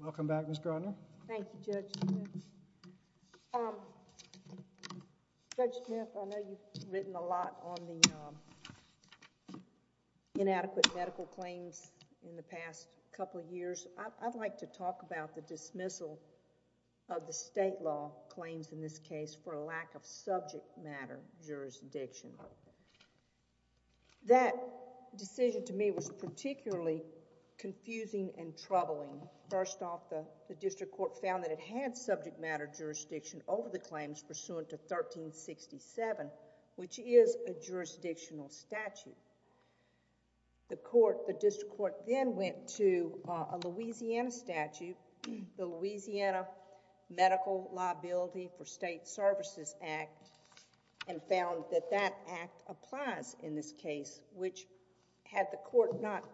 Welcome back, Ms. Gardner. Thank you, Judge. Judge Smith, I know you've written a lot on the inadequate medical claims in the past couple of years. I'd like to talk about the dismissal of the state law claims in this case for a lack of subject matter jurisdiction. That decision to me was particularly confusing and troubling. First off, the district court found that it had subject matter jurisdiction over the claims pursuant to 1367, which is a jurisdictional statute. The district court then went to a Louisiana statute, the Louisiana Medical Liability for State Services Act, and found that that act applies in this case, which had the court not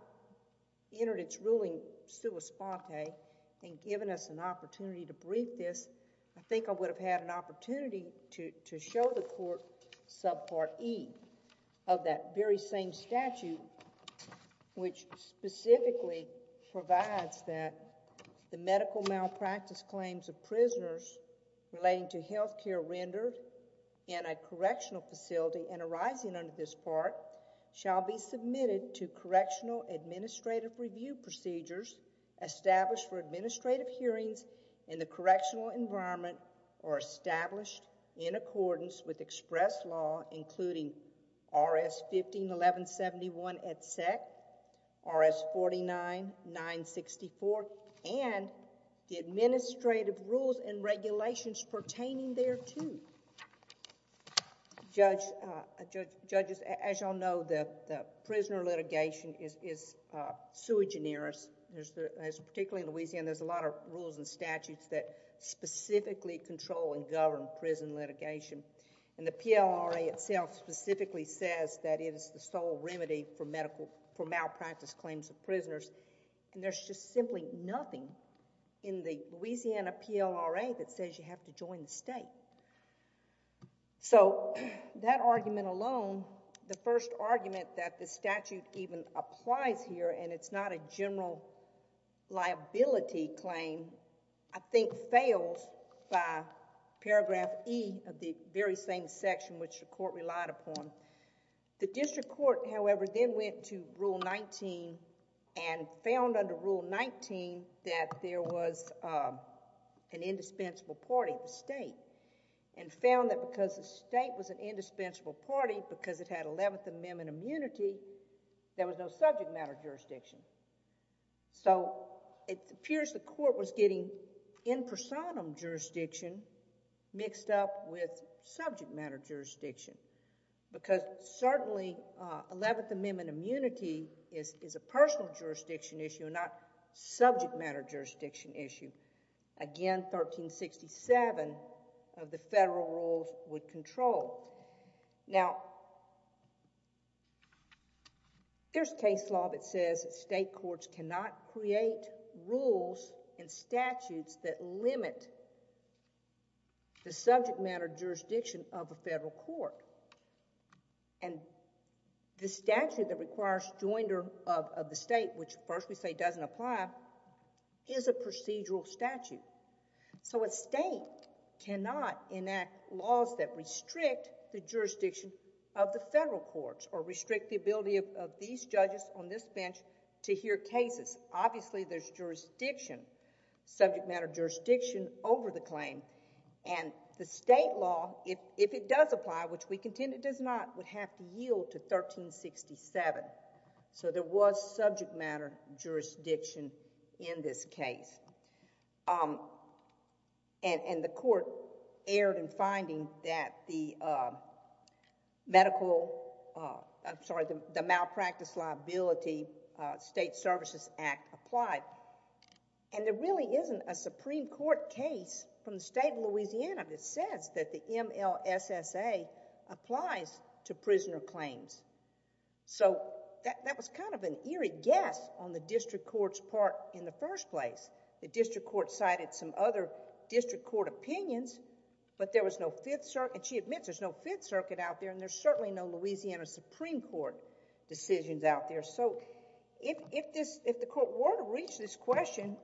entered its ruling sua sponte and given us an opportunity to brief this, I think I would have had an opportunity to show the court subpart E of that very same statute, which specifically provides that the medical malpractice claims of prisoners relating to health care rendered in a correctional facility and arising under this part shall be submitted to correctional administrative review procedures established for administrative hearings in the correctional environment or established in accordance with express law, including RS 151171 at SEC, RS 49964, and the administrative rules and regulations pertaining thereto. Judge, as you all know, the prisoner litigation is sui generis. Particularly in Louisiana, there's a lot of rules and statutes that specifically control and govern prison litigation. The PLRA itself specifically says that it is the sole remedy for malpractice claims of prisoners. And there's just simply nothing in the Louisiana PLRA that says you have to join the state. So that argument alone, the first argument that the statute even applies here and it's not a general liability claim, I think fails by paragraph E of the very same section which the court relied upon. The district court, however, then went to Rule 19 and found under Rule 19 that there was an indispensable party, the state, and found that because the state was an indispensable party, because it had 11th Amendment immunity, there was no subject matter jurisdiction. So it appears the court was getting in personam jurisdiction mixed up with subject matter jurisdiction. Because certainly 11th Amendment immunity is a personal jurisdiction issue and not subject matter jurisdiction issue. Again, 1367 of the federal rules would control. Now, there's case law that says state courts cannot create rules and statutes that limit the subject matter jurisdiction of a federal court. And the statute that requires joinder of the state, which first we say doesn't apply, is a procedural statute. So a state cannot enact laws that restrict the jurisdiction of the federal courts or restrict the ability of these judges on this bench to hear cases. Obviously, there's jurisdiction, subject matter jurisdiction over the claim. And the state law, if it does apply, which we contend it does not, would have to yield to 1367. So there was subject matter jurisdiction in this case. And the court erred in finding that the medical, I'm sorry, the Malpractice Liability State Services Act applied. And there really isn't a Supreme Court case from the state of Louisiana that says that the MLSSA applies to prisoner claims. So that was kind of an eerie guess on the district court's part in the first place. The district court cited some other district court opinions, but there was no Fifth Circuit. And she admits there's no Fifth Circuit out there, and there's certainly no Louisiana Supreme Court decisions out there. So if the court were to reach this question,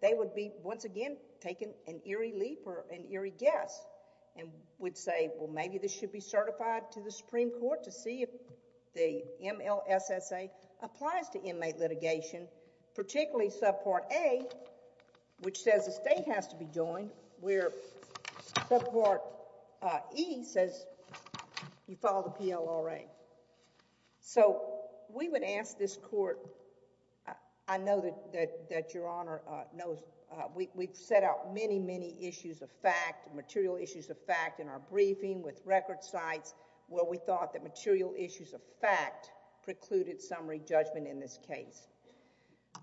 they would be, once again, taking an eerie leap or an eerie guess and would say, well, maybe this should be certified to the Supreme Court to see if the MLSSA applies to inmate litigation, particularly subpart A, which says the state has to be joined, where subpart E says you follow the PLRA. So we would ask this court, I know that Your Honor knows we've set out many, many issues of fact, material issues of fact in our briefing with record sites where we thought that material issues of fact precluded summary judgment in this case.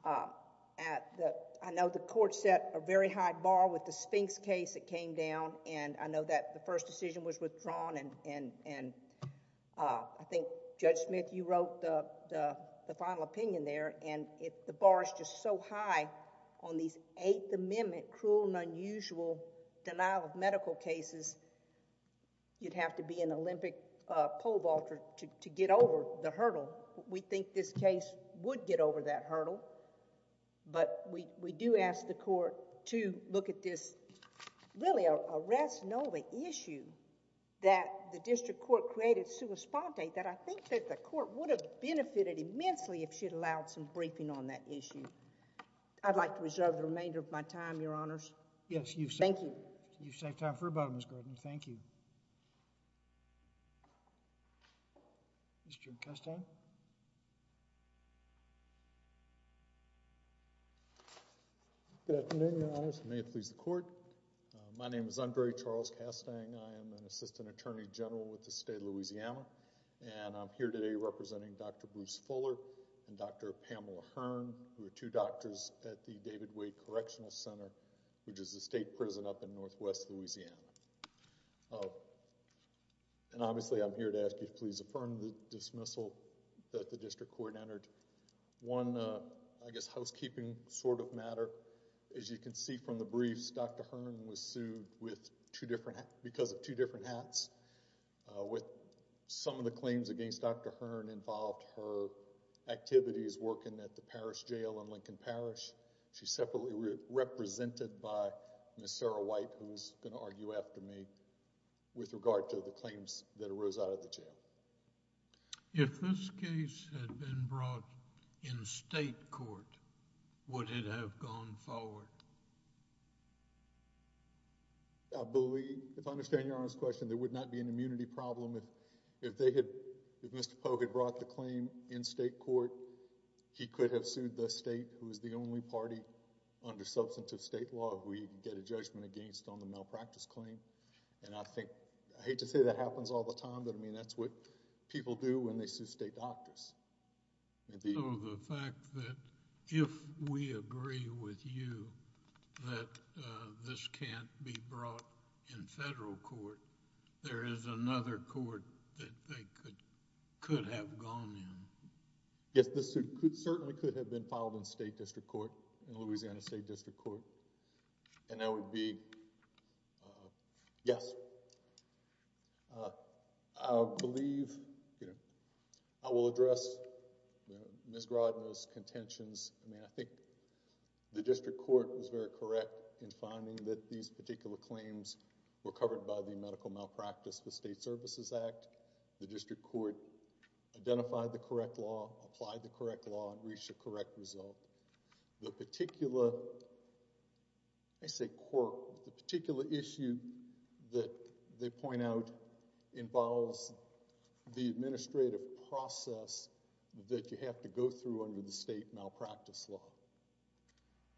I know the court set a very high bar with the Sphinx case that came down, and I know that the first decision was withdrawn, and I think Judge Smith, you wrote the final opinion there, and the bar is just so high on these Eighth Amendment cruel and unusual denial of medical cases. You'd have to be an Olympic pole vaulter to get over the hurdle. So we think this case would get over that hurdle, but we do ask the court to look at this, really, a RAS Nova issue that the district court created sua sponte that I think that the court would have benefited immensely if she'd allowed some briefing on that issue. I'd like to reserve the remainder of my time, Your Honors. Thank you. You've saved time for about a minute, Mr. Gardner. Thank you. Mr. Kastang? Good afternoon, Your Honors. May it please the court. My name is Andre Charles Kastang. I am an assistant attorney general with the state of Louisiana, and I'm here today representing Dr. Bruce Fuller and Dr. Pamela Hearn, who are two doctors at the David Wade Correctional Center, which is a state prison up in northwest Louisiana. And obviously I'm here to ask you to please affirm the dismissal that the district court entered. One, I guess, housekeeping sort of matter. As you can see from the briefs, Dr. Hearn was sued because of two different hats. Some of the claims against Dr. Hearn involved her activities working at the parish jail in Lincoln Parish. She's separately represented by Ms. Sarah White, who's going to argue after me, with regard to the claims that arose out of the jail. If this case had been brought in state court, would it have gone forward? I believe, if I understand Your Honor's question, there would not be an immunity problem. If Mr. Polk had brought the claim in state court, he could have sued the state, who is the only party under substantive state law we get a judgment against on the malpractice claim. And I hate to say that happens all the time, but that's what people do when they sue state doctors. The fact that if we agree with you that this can't be brought in federal court, there is another court that they could have gone in. Yes, this certainly could have been filed in state district court, in Louisiana State District Court. And that would be a yes. I believe, I will address Ms. Grodno's contentions. I think the district court was very correct in finding that these particular claims were covered by the Medical Malpractice with State Services Act. The district court identified the correct law, applied the correct law, and reached a correct result. The particular issue that they point out involves the administrative process that you have to go through under the state malpractice law.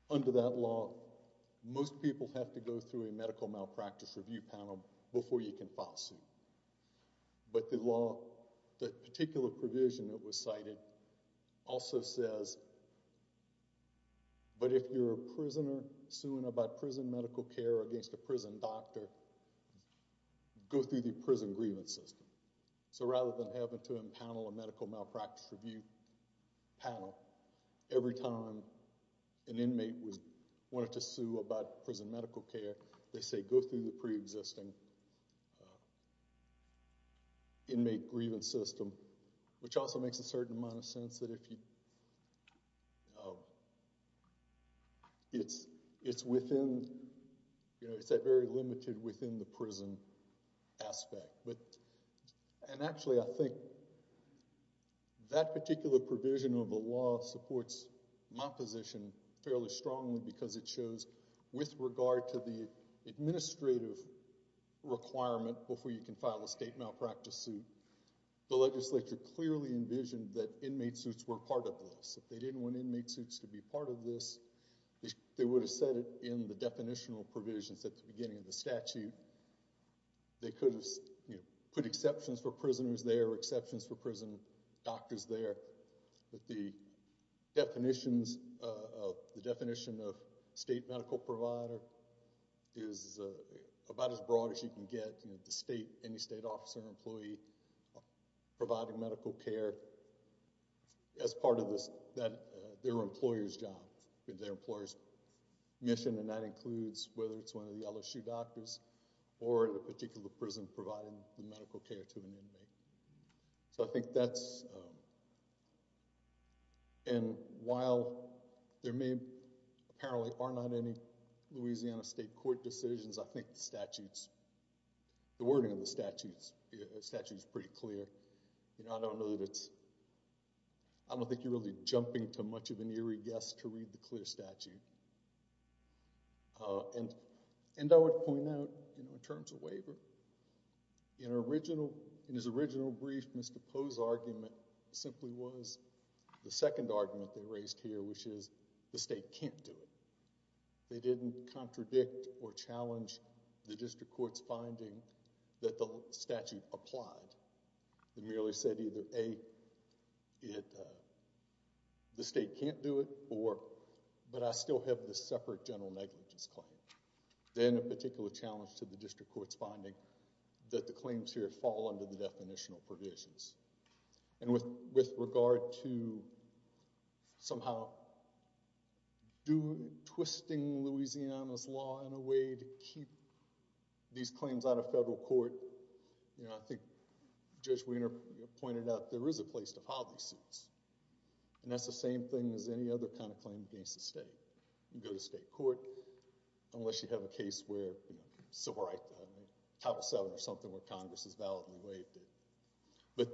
Under that law, most people have to go through a medical malpractice review panel before you can file suit. But the particular provision that was cited also says, but if you're a prisoner suing about prison medical care against a prison doctor, go through the prison grievance system. So rather than having to impanel a medical malpractice review panel every time an inmate wanted to sue about prison medical care, they say go through the pre-existing inmate grievance system, which also makes a certain amount of sense that it's within, it's a very limited within the prison aspect. And actually I think that particular provision of the law supports my position fairly strongly because it shows with regard to the administrative requirement before you can file a state malpractice suit, the legislature clearly envisioned that inmate suits were part of this. If they didn't want inmate suits to be part of this, they would have said it in the definitional provisions at the beginning of the statute. They could have put exceptions for prisoners there, exceptions for prison doctors there. But the definition of state medical provider is about as broad as you can get. Any state officer or employee providing medical care as part of their employer's job, their employer's mission, and that includes whether it's one of the LSU doctors or the particular prison providing the medical care to an inmate. So I think that's, and while there may apparently are not any Louisiana state court decisions, I think the statutes, the wording of the statutes is pretty clear. I don't know that it's, I don't think you're really jumping to much of an eerie guess to read the clear statute. And I would point out in terms of waiver, in his original brief, Mr. Poe's argument simply was the second argument they raised here, which is the state can't do it. They didn't contradict or challenge the district court's finding that the statute applied. They merely said either A, the state can't do it, or, but I still have this separate general negligence claim. Then a particular challenge to the district court's finding that the claims here fall under the definitional provisions. And with regard to somehow twisting Louisiana's law in a way to keep these claims out of federal court, I think Judge Wiener pointed out there is a place to file these suits. And that's the same thing as any other kind of claim against the state. You can go to state court, unless you have a case where civil rights, Title VII or something, where Congress has validly waived it. But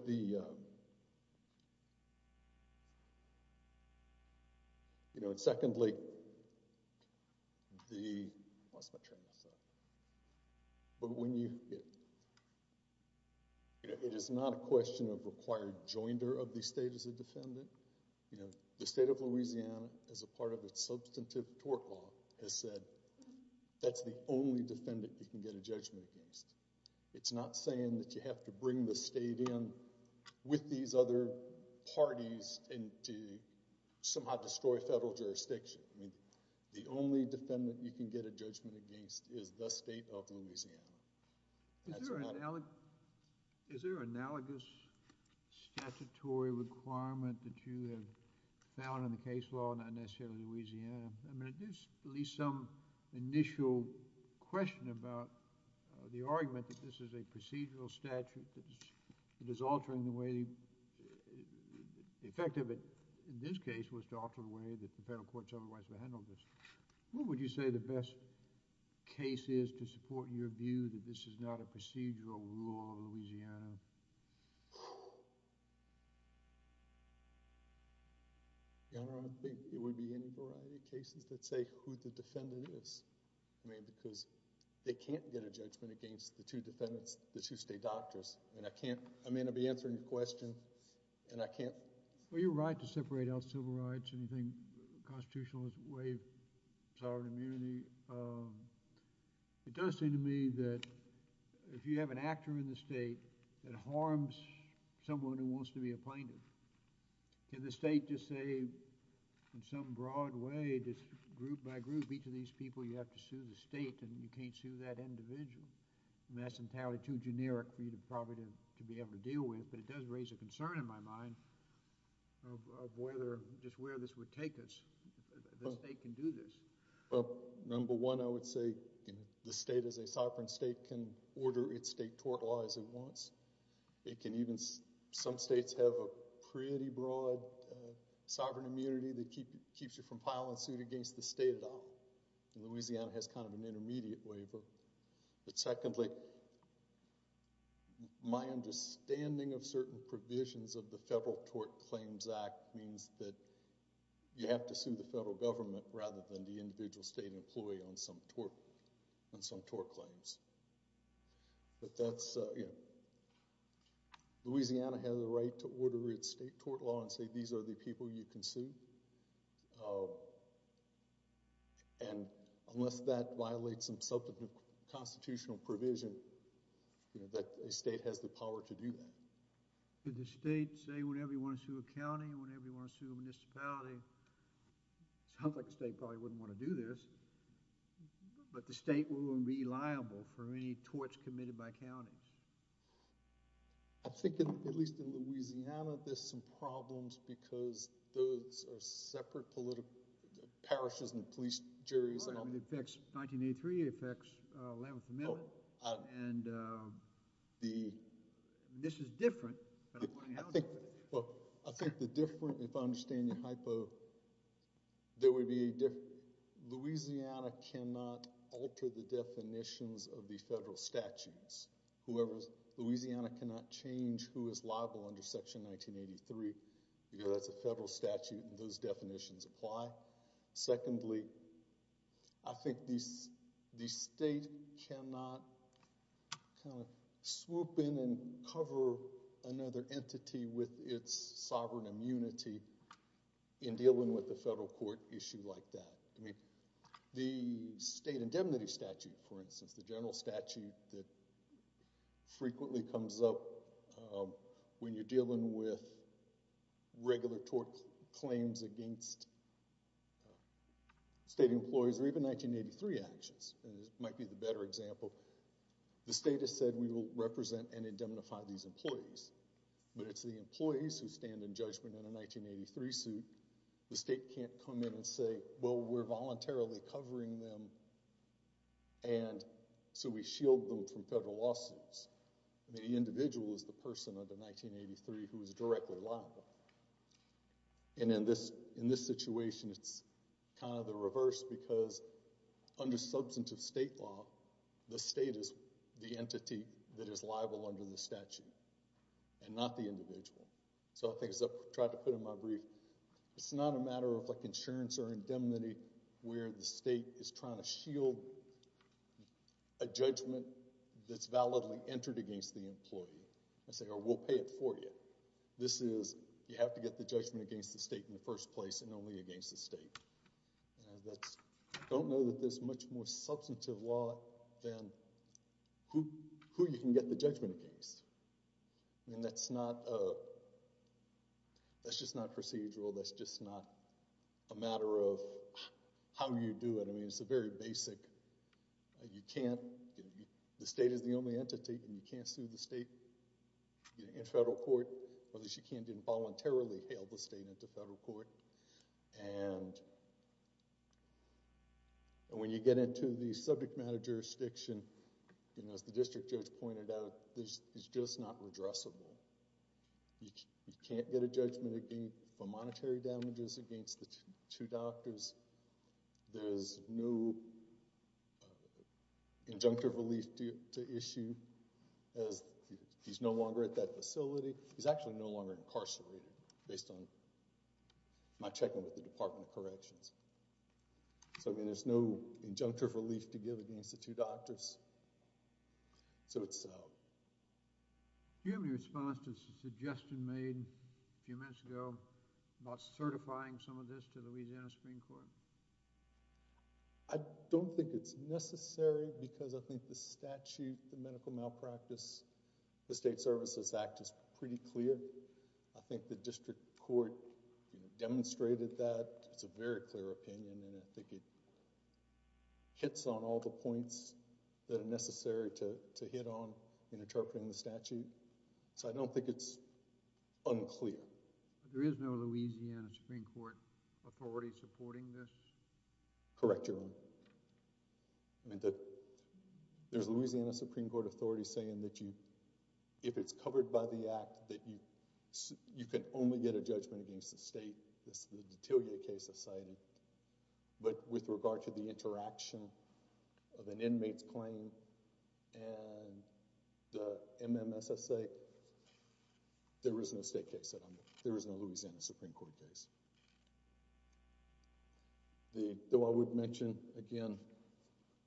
secondly, it is not a question of required joinder of the state as a defendant. The state of Louisiana, as a part of its substantive tort law, has said that's the only defendant you can get a judgment against. It's not saying that you have to bring the state in with these other parties and to somehow destroy federal jurisdiction. The only defendant you can get a judgment against is the state of Louisiana. Is there an analogous statutory requirement that you have found in the case law, not necessarily Louisiana? I mean, there's at least some initial question about the argument that this is a procedural statute that is altering the way—the effect of it in this case was to alter the way that the federal courts otherwise have handled this. What would you say the best case is to support your view that this is not a procedural rule of Louisiana? Your Honor, I don't think there would be any variety of cases that say who the defendant is. I mean, because they can't get a judgment against the two defendants, the two state doctors. And I can't—I mean, I'll be answering your question, and I can't— Well, you're right to separate out civil rights. Anything constitutional is waived, sovereign immunity. It does seem to me that if you have an actor in the state that harms someone who wants to be a plaintiff, can the state just say in some broad way, just group by group, each of these people you have to sue the state, and you can't sue that individual? And that's entirely too generic for you probably to be able to deal with, but it does raise a concern in my mind of whether—just where this would take us. The state can do this. Well, number one, I would say the state, as a sovereign state, can order its state tort law as it wants. It can even—some states have a pretty broad sovereign immunity that keeps you from filing suit against the state at all. Louisiana has kind of an intermediate waiver. But secondly, my understanding of certain provisions of the Federal Tort Claims Act means that you have to sue the federal government rather than the individual state employee on some tort claims. But that's—Louisiana has a right to order its state tort law and say these are the people you can sue. And unless that violates some substantive constitutional provision, a state has the power to do that. Did the state say whenever you want to sue a county, whenever you want to sue a municipality? It sounds like the state probably wouldn't want to do this, but the state wouldn't be liable for any torts committed by counties. I think, at least in Louisiana, there's some problems because those are separate political—parishes and police juries. Right, and it affects—1983, it affects 11th Amendment. And this is different, but I'm wondering how it's different. Well, I think the difference, if I understand your hypo, there would be— Louisiana cannot alter the definitions of the federal statutes. Louisiana cannot change who is liable under Section 1983 because that's a federal statute and those definitions apply. Secondly, I think the state cannot swoop in and cover another entity with its sovereign immunity in dealing with a federal court issue like that. The state indemnity statute, for instance, the general statute that frequently comes up when you're dealing with regular tort claims against state employees or even 1983 actions, and this might be the better example, the state has said we will represent and indemnify these employees, but it's the employees who stand in judgment in a 1983 suit. The state can't come in and say, well, we're voluntarily covering them and so we shield them from federal lawsuits. The individual is the person under 1983 who is directly liable. And in this situation, it's kind of the reverse because under substantive state law, the state is the entity that is liable under the statute and not the individual. So I think as I've tried to put in my brief, it's not a matter of insurance or indemnity where the state is trying to shield a judgment that's validly entered against the employee. I say, oh, we'll pay it for you. This is you have to get the judgment against the state in the first place and only against the state. I don't know that there's much more substantive law than who you can get the judgment against. And that's just not procedural. That's just not a matter of how you do it. I mean, it's a very basic. You can't. The state is the only entity. You can't sue the state in federal court unless you can't involuntarily hail the state into federal court. And when you get into the subject matter jurisdiction, as the district judge pointed out, it's just not redressable. You can't get a judgment for monetary damages against the two doctors. There's no injunctive relief to issue as he's no longer at that facility. He's actually no longer incarcerated based on my checking with the Department of Corrections. So, I mean, there's no injunctive relief to give against the two doctors. So it's. Do you have any response to the suggestion made a few minutes ago about certifying some of this to the Louisiana Supreme Court? I don't think it's necessary because I think the statute, the medical malpractice, the State Services Act is pretty clear. I think the district court demonstrated that. It's a very clear opinion and I think it hits on all the points that are necessary to hit on in interpreting the statute. So I don't think it's unclear. There is no Louisiana Supreme Court authority supporting this? Correct, Your Honor. There's a Louisiana Supreme Court authority saying that you, if it's covered by the act, that you can only get a judgment against the state. But with regard to the interaction of an inmate's claim and the MMSSA, there is no state case. There is no Louisiana Supreme Court case. Though I would mention again,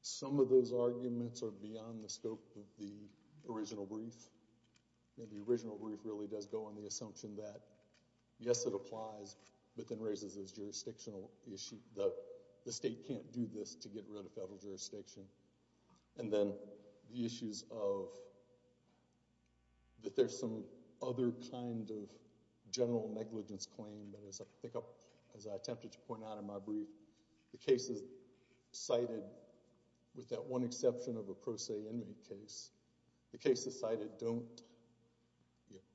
some of those arguments are beyond the scope of the original brief. The original brief really does go on the assumption that yes, it applies, but then raises this jurisdictional issue that the state can't do this to get rid of federal jurisdiction. And then the issues of that there's some other kind of general negligence claim. But as I attempted to point out in my brief, the cases cited, with that one exception of a pro se inmate case, the cases cited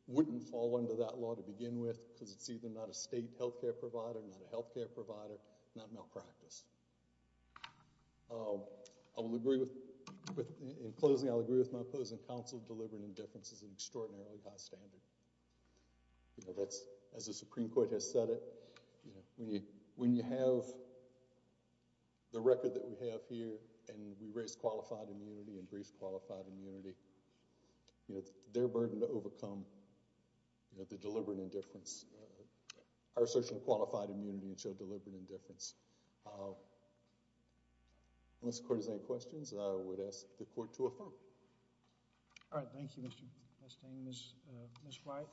wouldn't fall under that law to begin with because it's either not a state health care provider, not a health care provider, not malpractice. In closing, I'll agree with my opposing counsel, delivering indifference is an extraordinarily high standard. As the Supreme Court has said it, when you have the record that we have here and we raise qualified immunity and brief qualified immunity, their burden to overcome, the deliberate indifference, our assertion of qualified immunity and show deliberate indifference. Unless the court has any questions, I would ask the court to affirm. Thank you. All right. Thank you, Mr. Bustamante. Ms. White.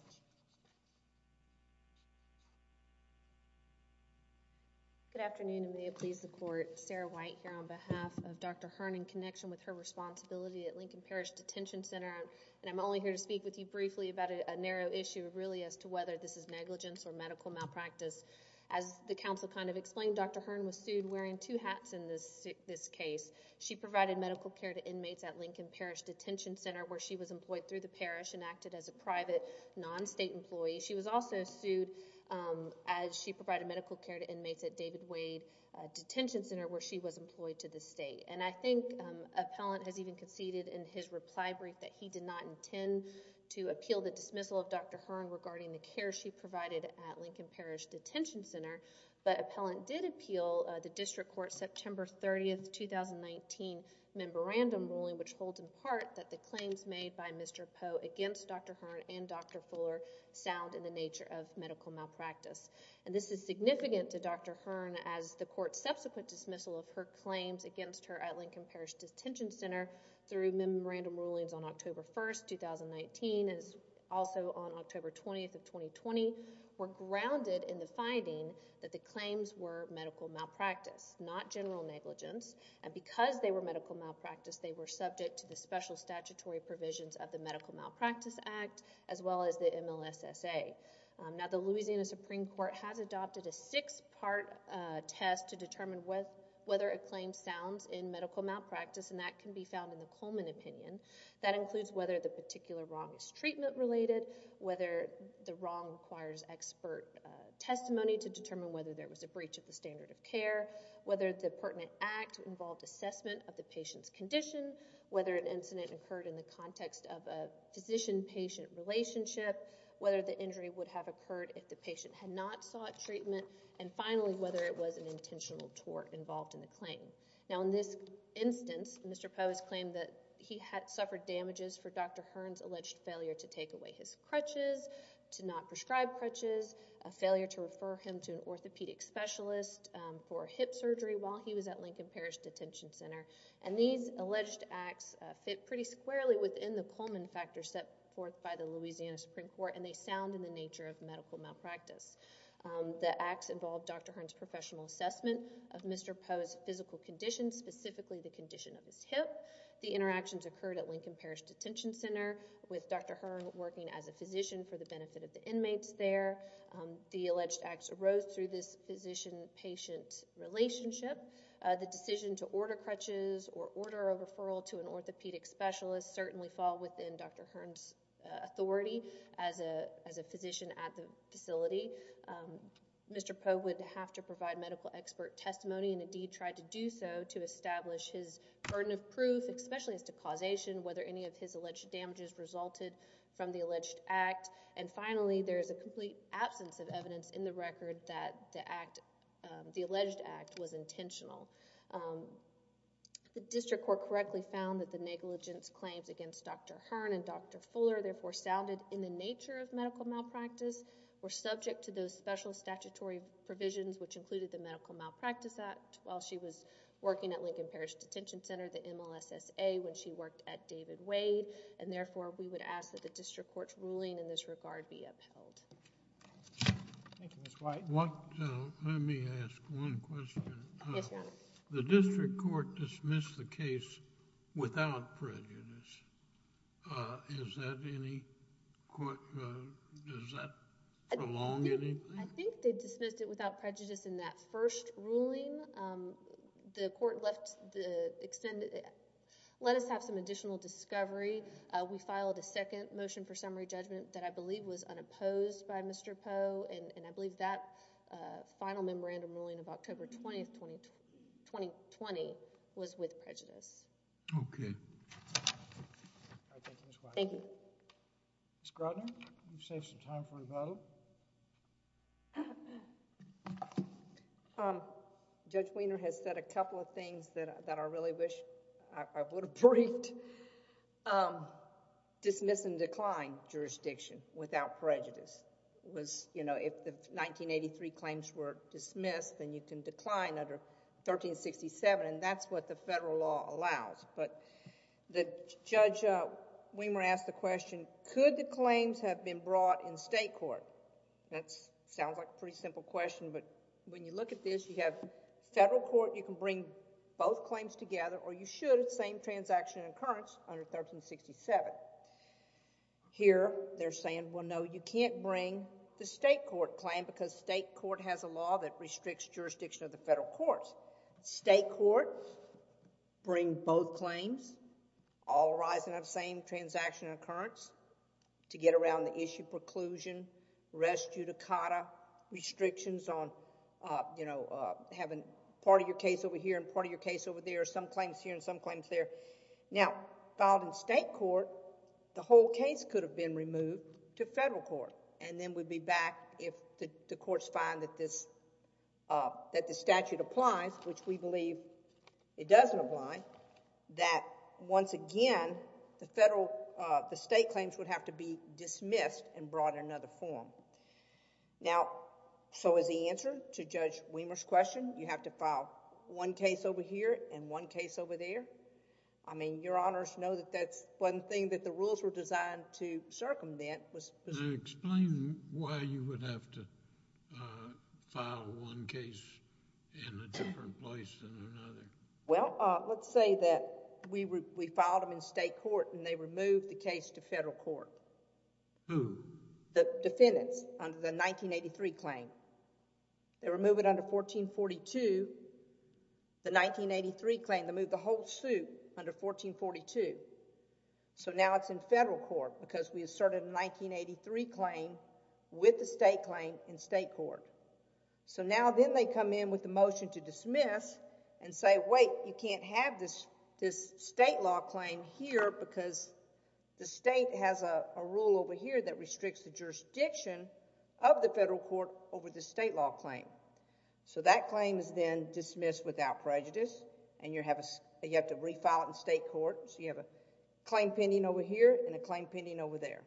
Good afternoon and may it please the court. Sarah White here on behalf of Dr. Hearn in connection with her responsibility at Lincoln Parish Detention Center. And I'm only here to speak with you briefly about a narrow issue really as to whether this is negligence or medical malpractice. As the counsel kind of explained, Dr. Hearn was sued wearing two hats in this case. She provided medical care to inmates at Lincoln Parish Detention Center where she was employed through the parish and acted as a private non-state employee. She was also sued as she provided medical care to inmates at David Wade Detention Center where she was employed to the state. And I think Appellant has even conceded in his reply brief that he did not intend to appeal the dismissal of Dr. Hearn regarding the care she provided at Lincoln Parish Detention Center. But Appellant did appeal the district court September 30th, 2019 memorandum ruling which holds in part that the claims made by Mr. Poe against Dr. Hearn and Dr. Fuller sound in the nature of medical malpractice. And this is significant to Dr. Hearn as the court's subsequent dismissal of her claims against her at Lincoln Parish Detention Center through memorandum rulings on October 1st, 2019 and also on October 20th of 2020 were grounded in the finding that the claims were medical malpractice, not general negligence. And because they were medical malpractice, they were subject to the special statutory provisions of the Medical Malpractice Act as well as the MLSSA. Now the Louisiana Supreme Court has adopted a six-part test to determine whether a claim sounds in medical malpractice and that can be found in the Coleman opinion. That includes whether the particular wrong is treatment-related, whether the wrong requires expert testimony to determine whether there was a breach of the standard of care, whether the pertinent act involved assessment of the patient's condition, whether an incident occurred in the context of a physician-patient relationship, whether the injury would have occurred if the patient had not sought treatment, and finally, whether it was an intentional tort involved in the claim. Now in this instance, Mr. Poe has claimed that he had suffered damages for Dr. Hearn's alleged failure to take away his crutches, to not prescribe crutches, a failure to refer him to an orthopedic specialist for hip surgery while he was at Lincoln Parish Detention Center. And these alleged acts fit pretty squarely within the Coleman factor set forth by the Louisiana Supreme Court and they sound in the nature of medical malpractice. The acts involved Dr. Hearn's professional assessment of Mr. Poe's physical condition, specifically the condition of his hip. The interactions occurred at Lincoln Parish Detention Center with Dr. Hearn working as a physician for the benefit of the inmates there. The alleged acts arose through this physician-patient relationship. The decision to order crutches or order a referral to an orthopedic specialist certainly fall within Dr. Hearn's authority as a physician at the facility. Mr. Poe would have to provide medical expert testimony and indeed tried to do so to establish his burden of proof, especially as to causation, whether any of his alleged damages resulted from the alleged act. And finally, there is a complete absence of evidence in the record that the act, the alleged act, was intentional. The district court correctly found that the negligence claims against Dr. Hearn and Dr. Fuller therefore sounded in the nature of medical malpractice, were subject to those special statutory provisions which included the Medical Malpractice Act while she was working at Lincoln Parish Detention Center, the MLSSA, when she worked at David Wade. And therefore, we would ask that the district court's ruling in this regard be upheld. Thank you, Ms. White. Let me ask one question. Yes, Your Honor. The district court dismissed the case without prejudice. Is that any, does that prolong anything? I think they dismissed it without prejudice in that first ruling. The court left the extended, let us have some additional discovery. We filed a second motion for summary judgment that I believe was unopposed by Mr. Poe, and I believe that final memorandum ruling of October 20, 2020, was with prejudice. Okay. Thank you, Ms. White. Thank you. Ms. Grodner, you've saved some time for rebuttal. Judge Wiener has said a couple of things that I really wish I would have briefed. Dismiss and decline jurisdiction without prejudice was, you know, if the 1983 claims were dismissed, then you can decline under 1367, and that's what the federal law allows. But Judge Wiener asked the question, could the claims have been brought in state court? That sounds like a pretty simple question, but when you look at this, you have federal court, you can bring both claims together, or you should at the same transaction occurrence under 1367. Here, they're saying, well, no, you can't bring the state court claim because state court has a law that restricts jurisdiction of the federal courts. State courts bring both claims, all arising out of the same transaction occurrence, to get around the issue of preclusion, res judicata, restrictions on, you know, having part of your case over here and part of your case over there, some claims here and some claims there. Now, filed in state court, the whole case could have been removed to federal court, and then we'd be back if the courts find that this statute applies, which we believe it doesn't apply, that once again, the state claims would have to be dismissed and brought in another form. Now, so is the answer to Judge Wiener's question, you have to file one case over here and one case over there? I mean, Your Honors know that that's one thing that the rules were designed to circumvent. Now, explain why you would have to file one case in a different place than another. Well, let's say that we filed them in state court and they removed the case to federal court. Who? The defendants under the 1983 claim. They removed it under 1442. The 1983 claim, they moved the whole suit under 1442. So now it's in federal court because we asserted a 1983 claim with the state claim in state court. So now then they come in with the motion to dismiss and say, wait, you can't have this state law claim here because the state has a rule over here that restricts the jurisdiction of the federal court over the state law claim. So that claim is then dismissed without prejudice, and you have to refile it in state court, so you have a claim pending over here and a claim pending over there.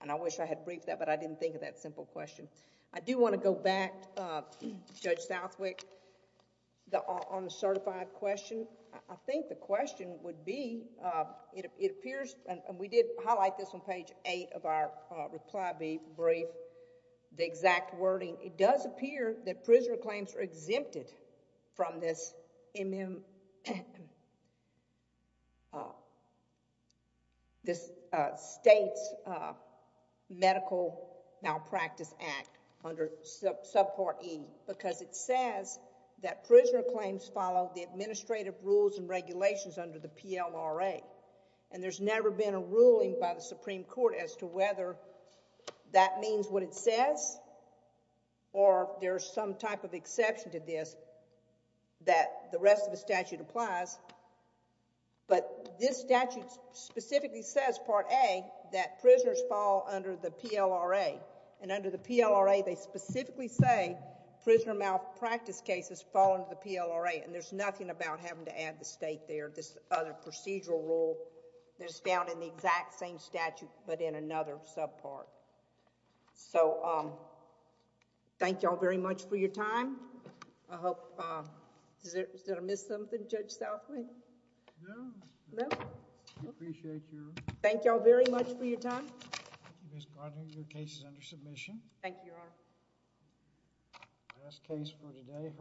And I wish I had briefed that, but I didn't think of that simple question. I do want to go back, Judge Southwick, on the certified question. I think the question would be, it appears, and we did highlight this on page eight of our reply brief, the exact wording, it does appear that prisoner claims are exempted from this state's medical malpractice act under subpart E because it says that prisoner claims follow the administrative rules and regulations under the PLMRA, and there's never been a ruling by the Supreme Court as to whether that means what it says or there's some type of exception to this that the rest of the statute applies. But this statute specifically says, part A, that prisoners fall under the PLRA, and under the PLRA they specifically say prisoner malpractice cases fall under the PLRA, and there's nothing about having to add the state there, this other procedural rule, that's found in the exact same statute but in another subpart. So, thank you all very much for your time. I hope... is there... did I miss something, Judge Southwick? No. No? We appreciate your... Thank you all very much for your time. Thank you, Ms. Goddard. Your case is under submission. Thank you, Your Honor. That's the case for today.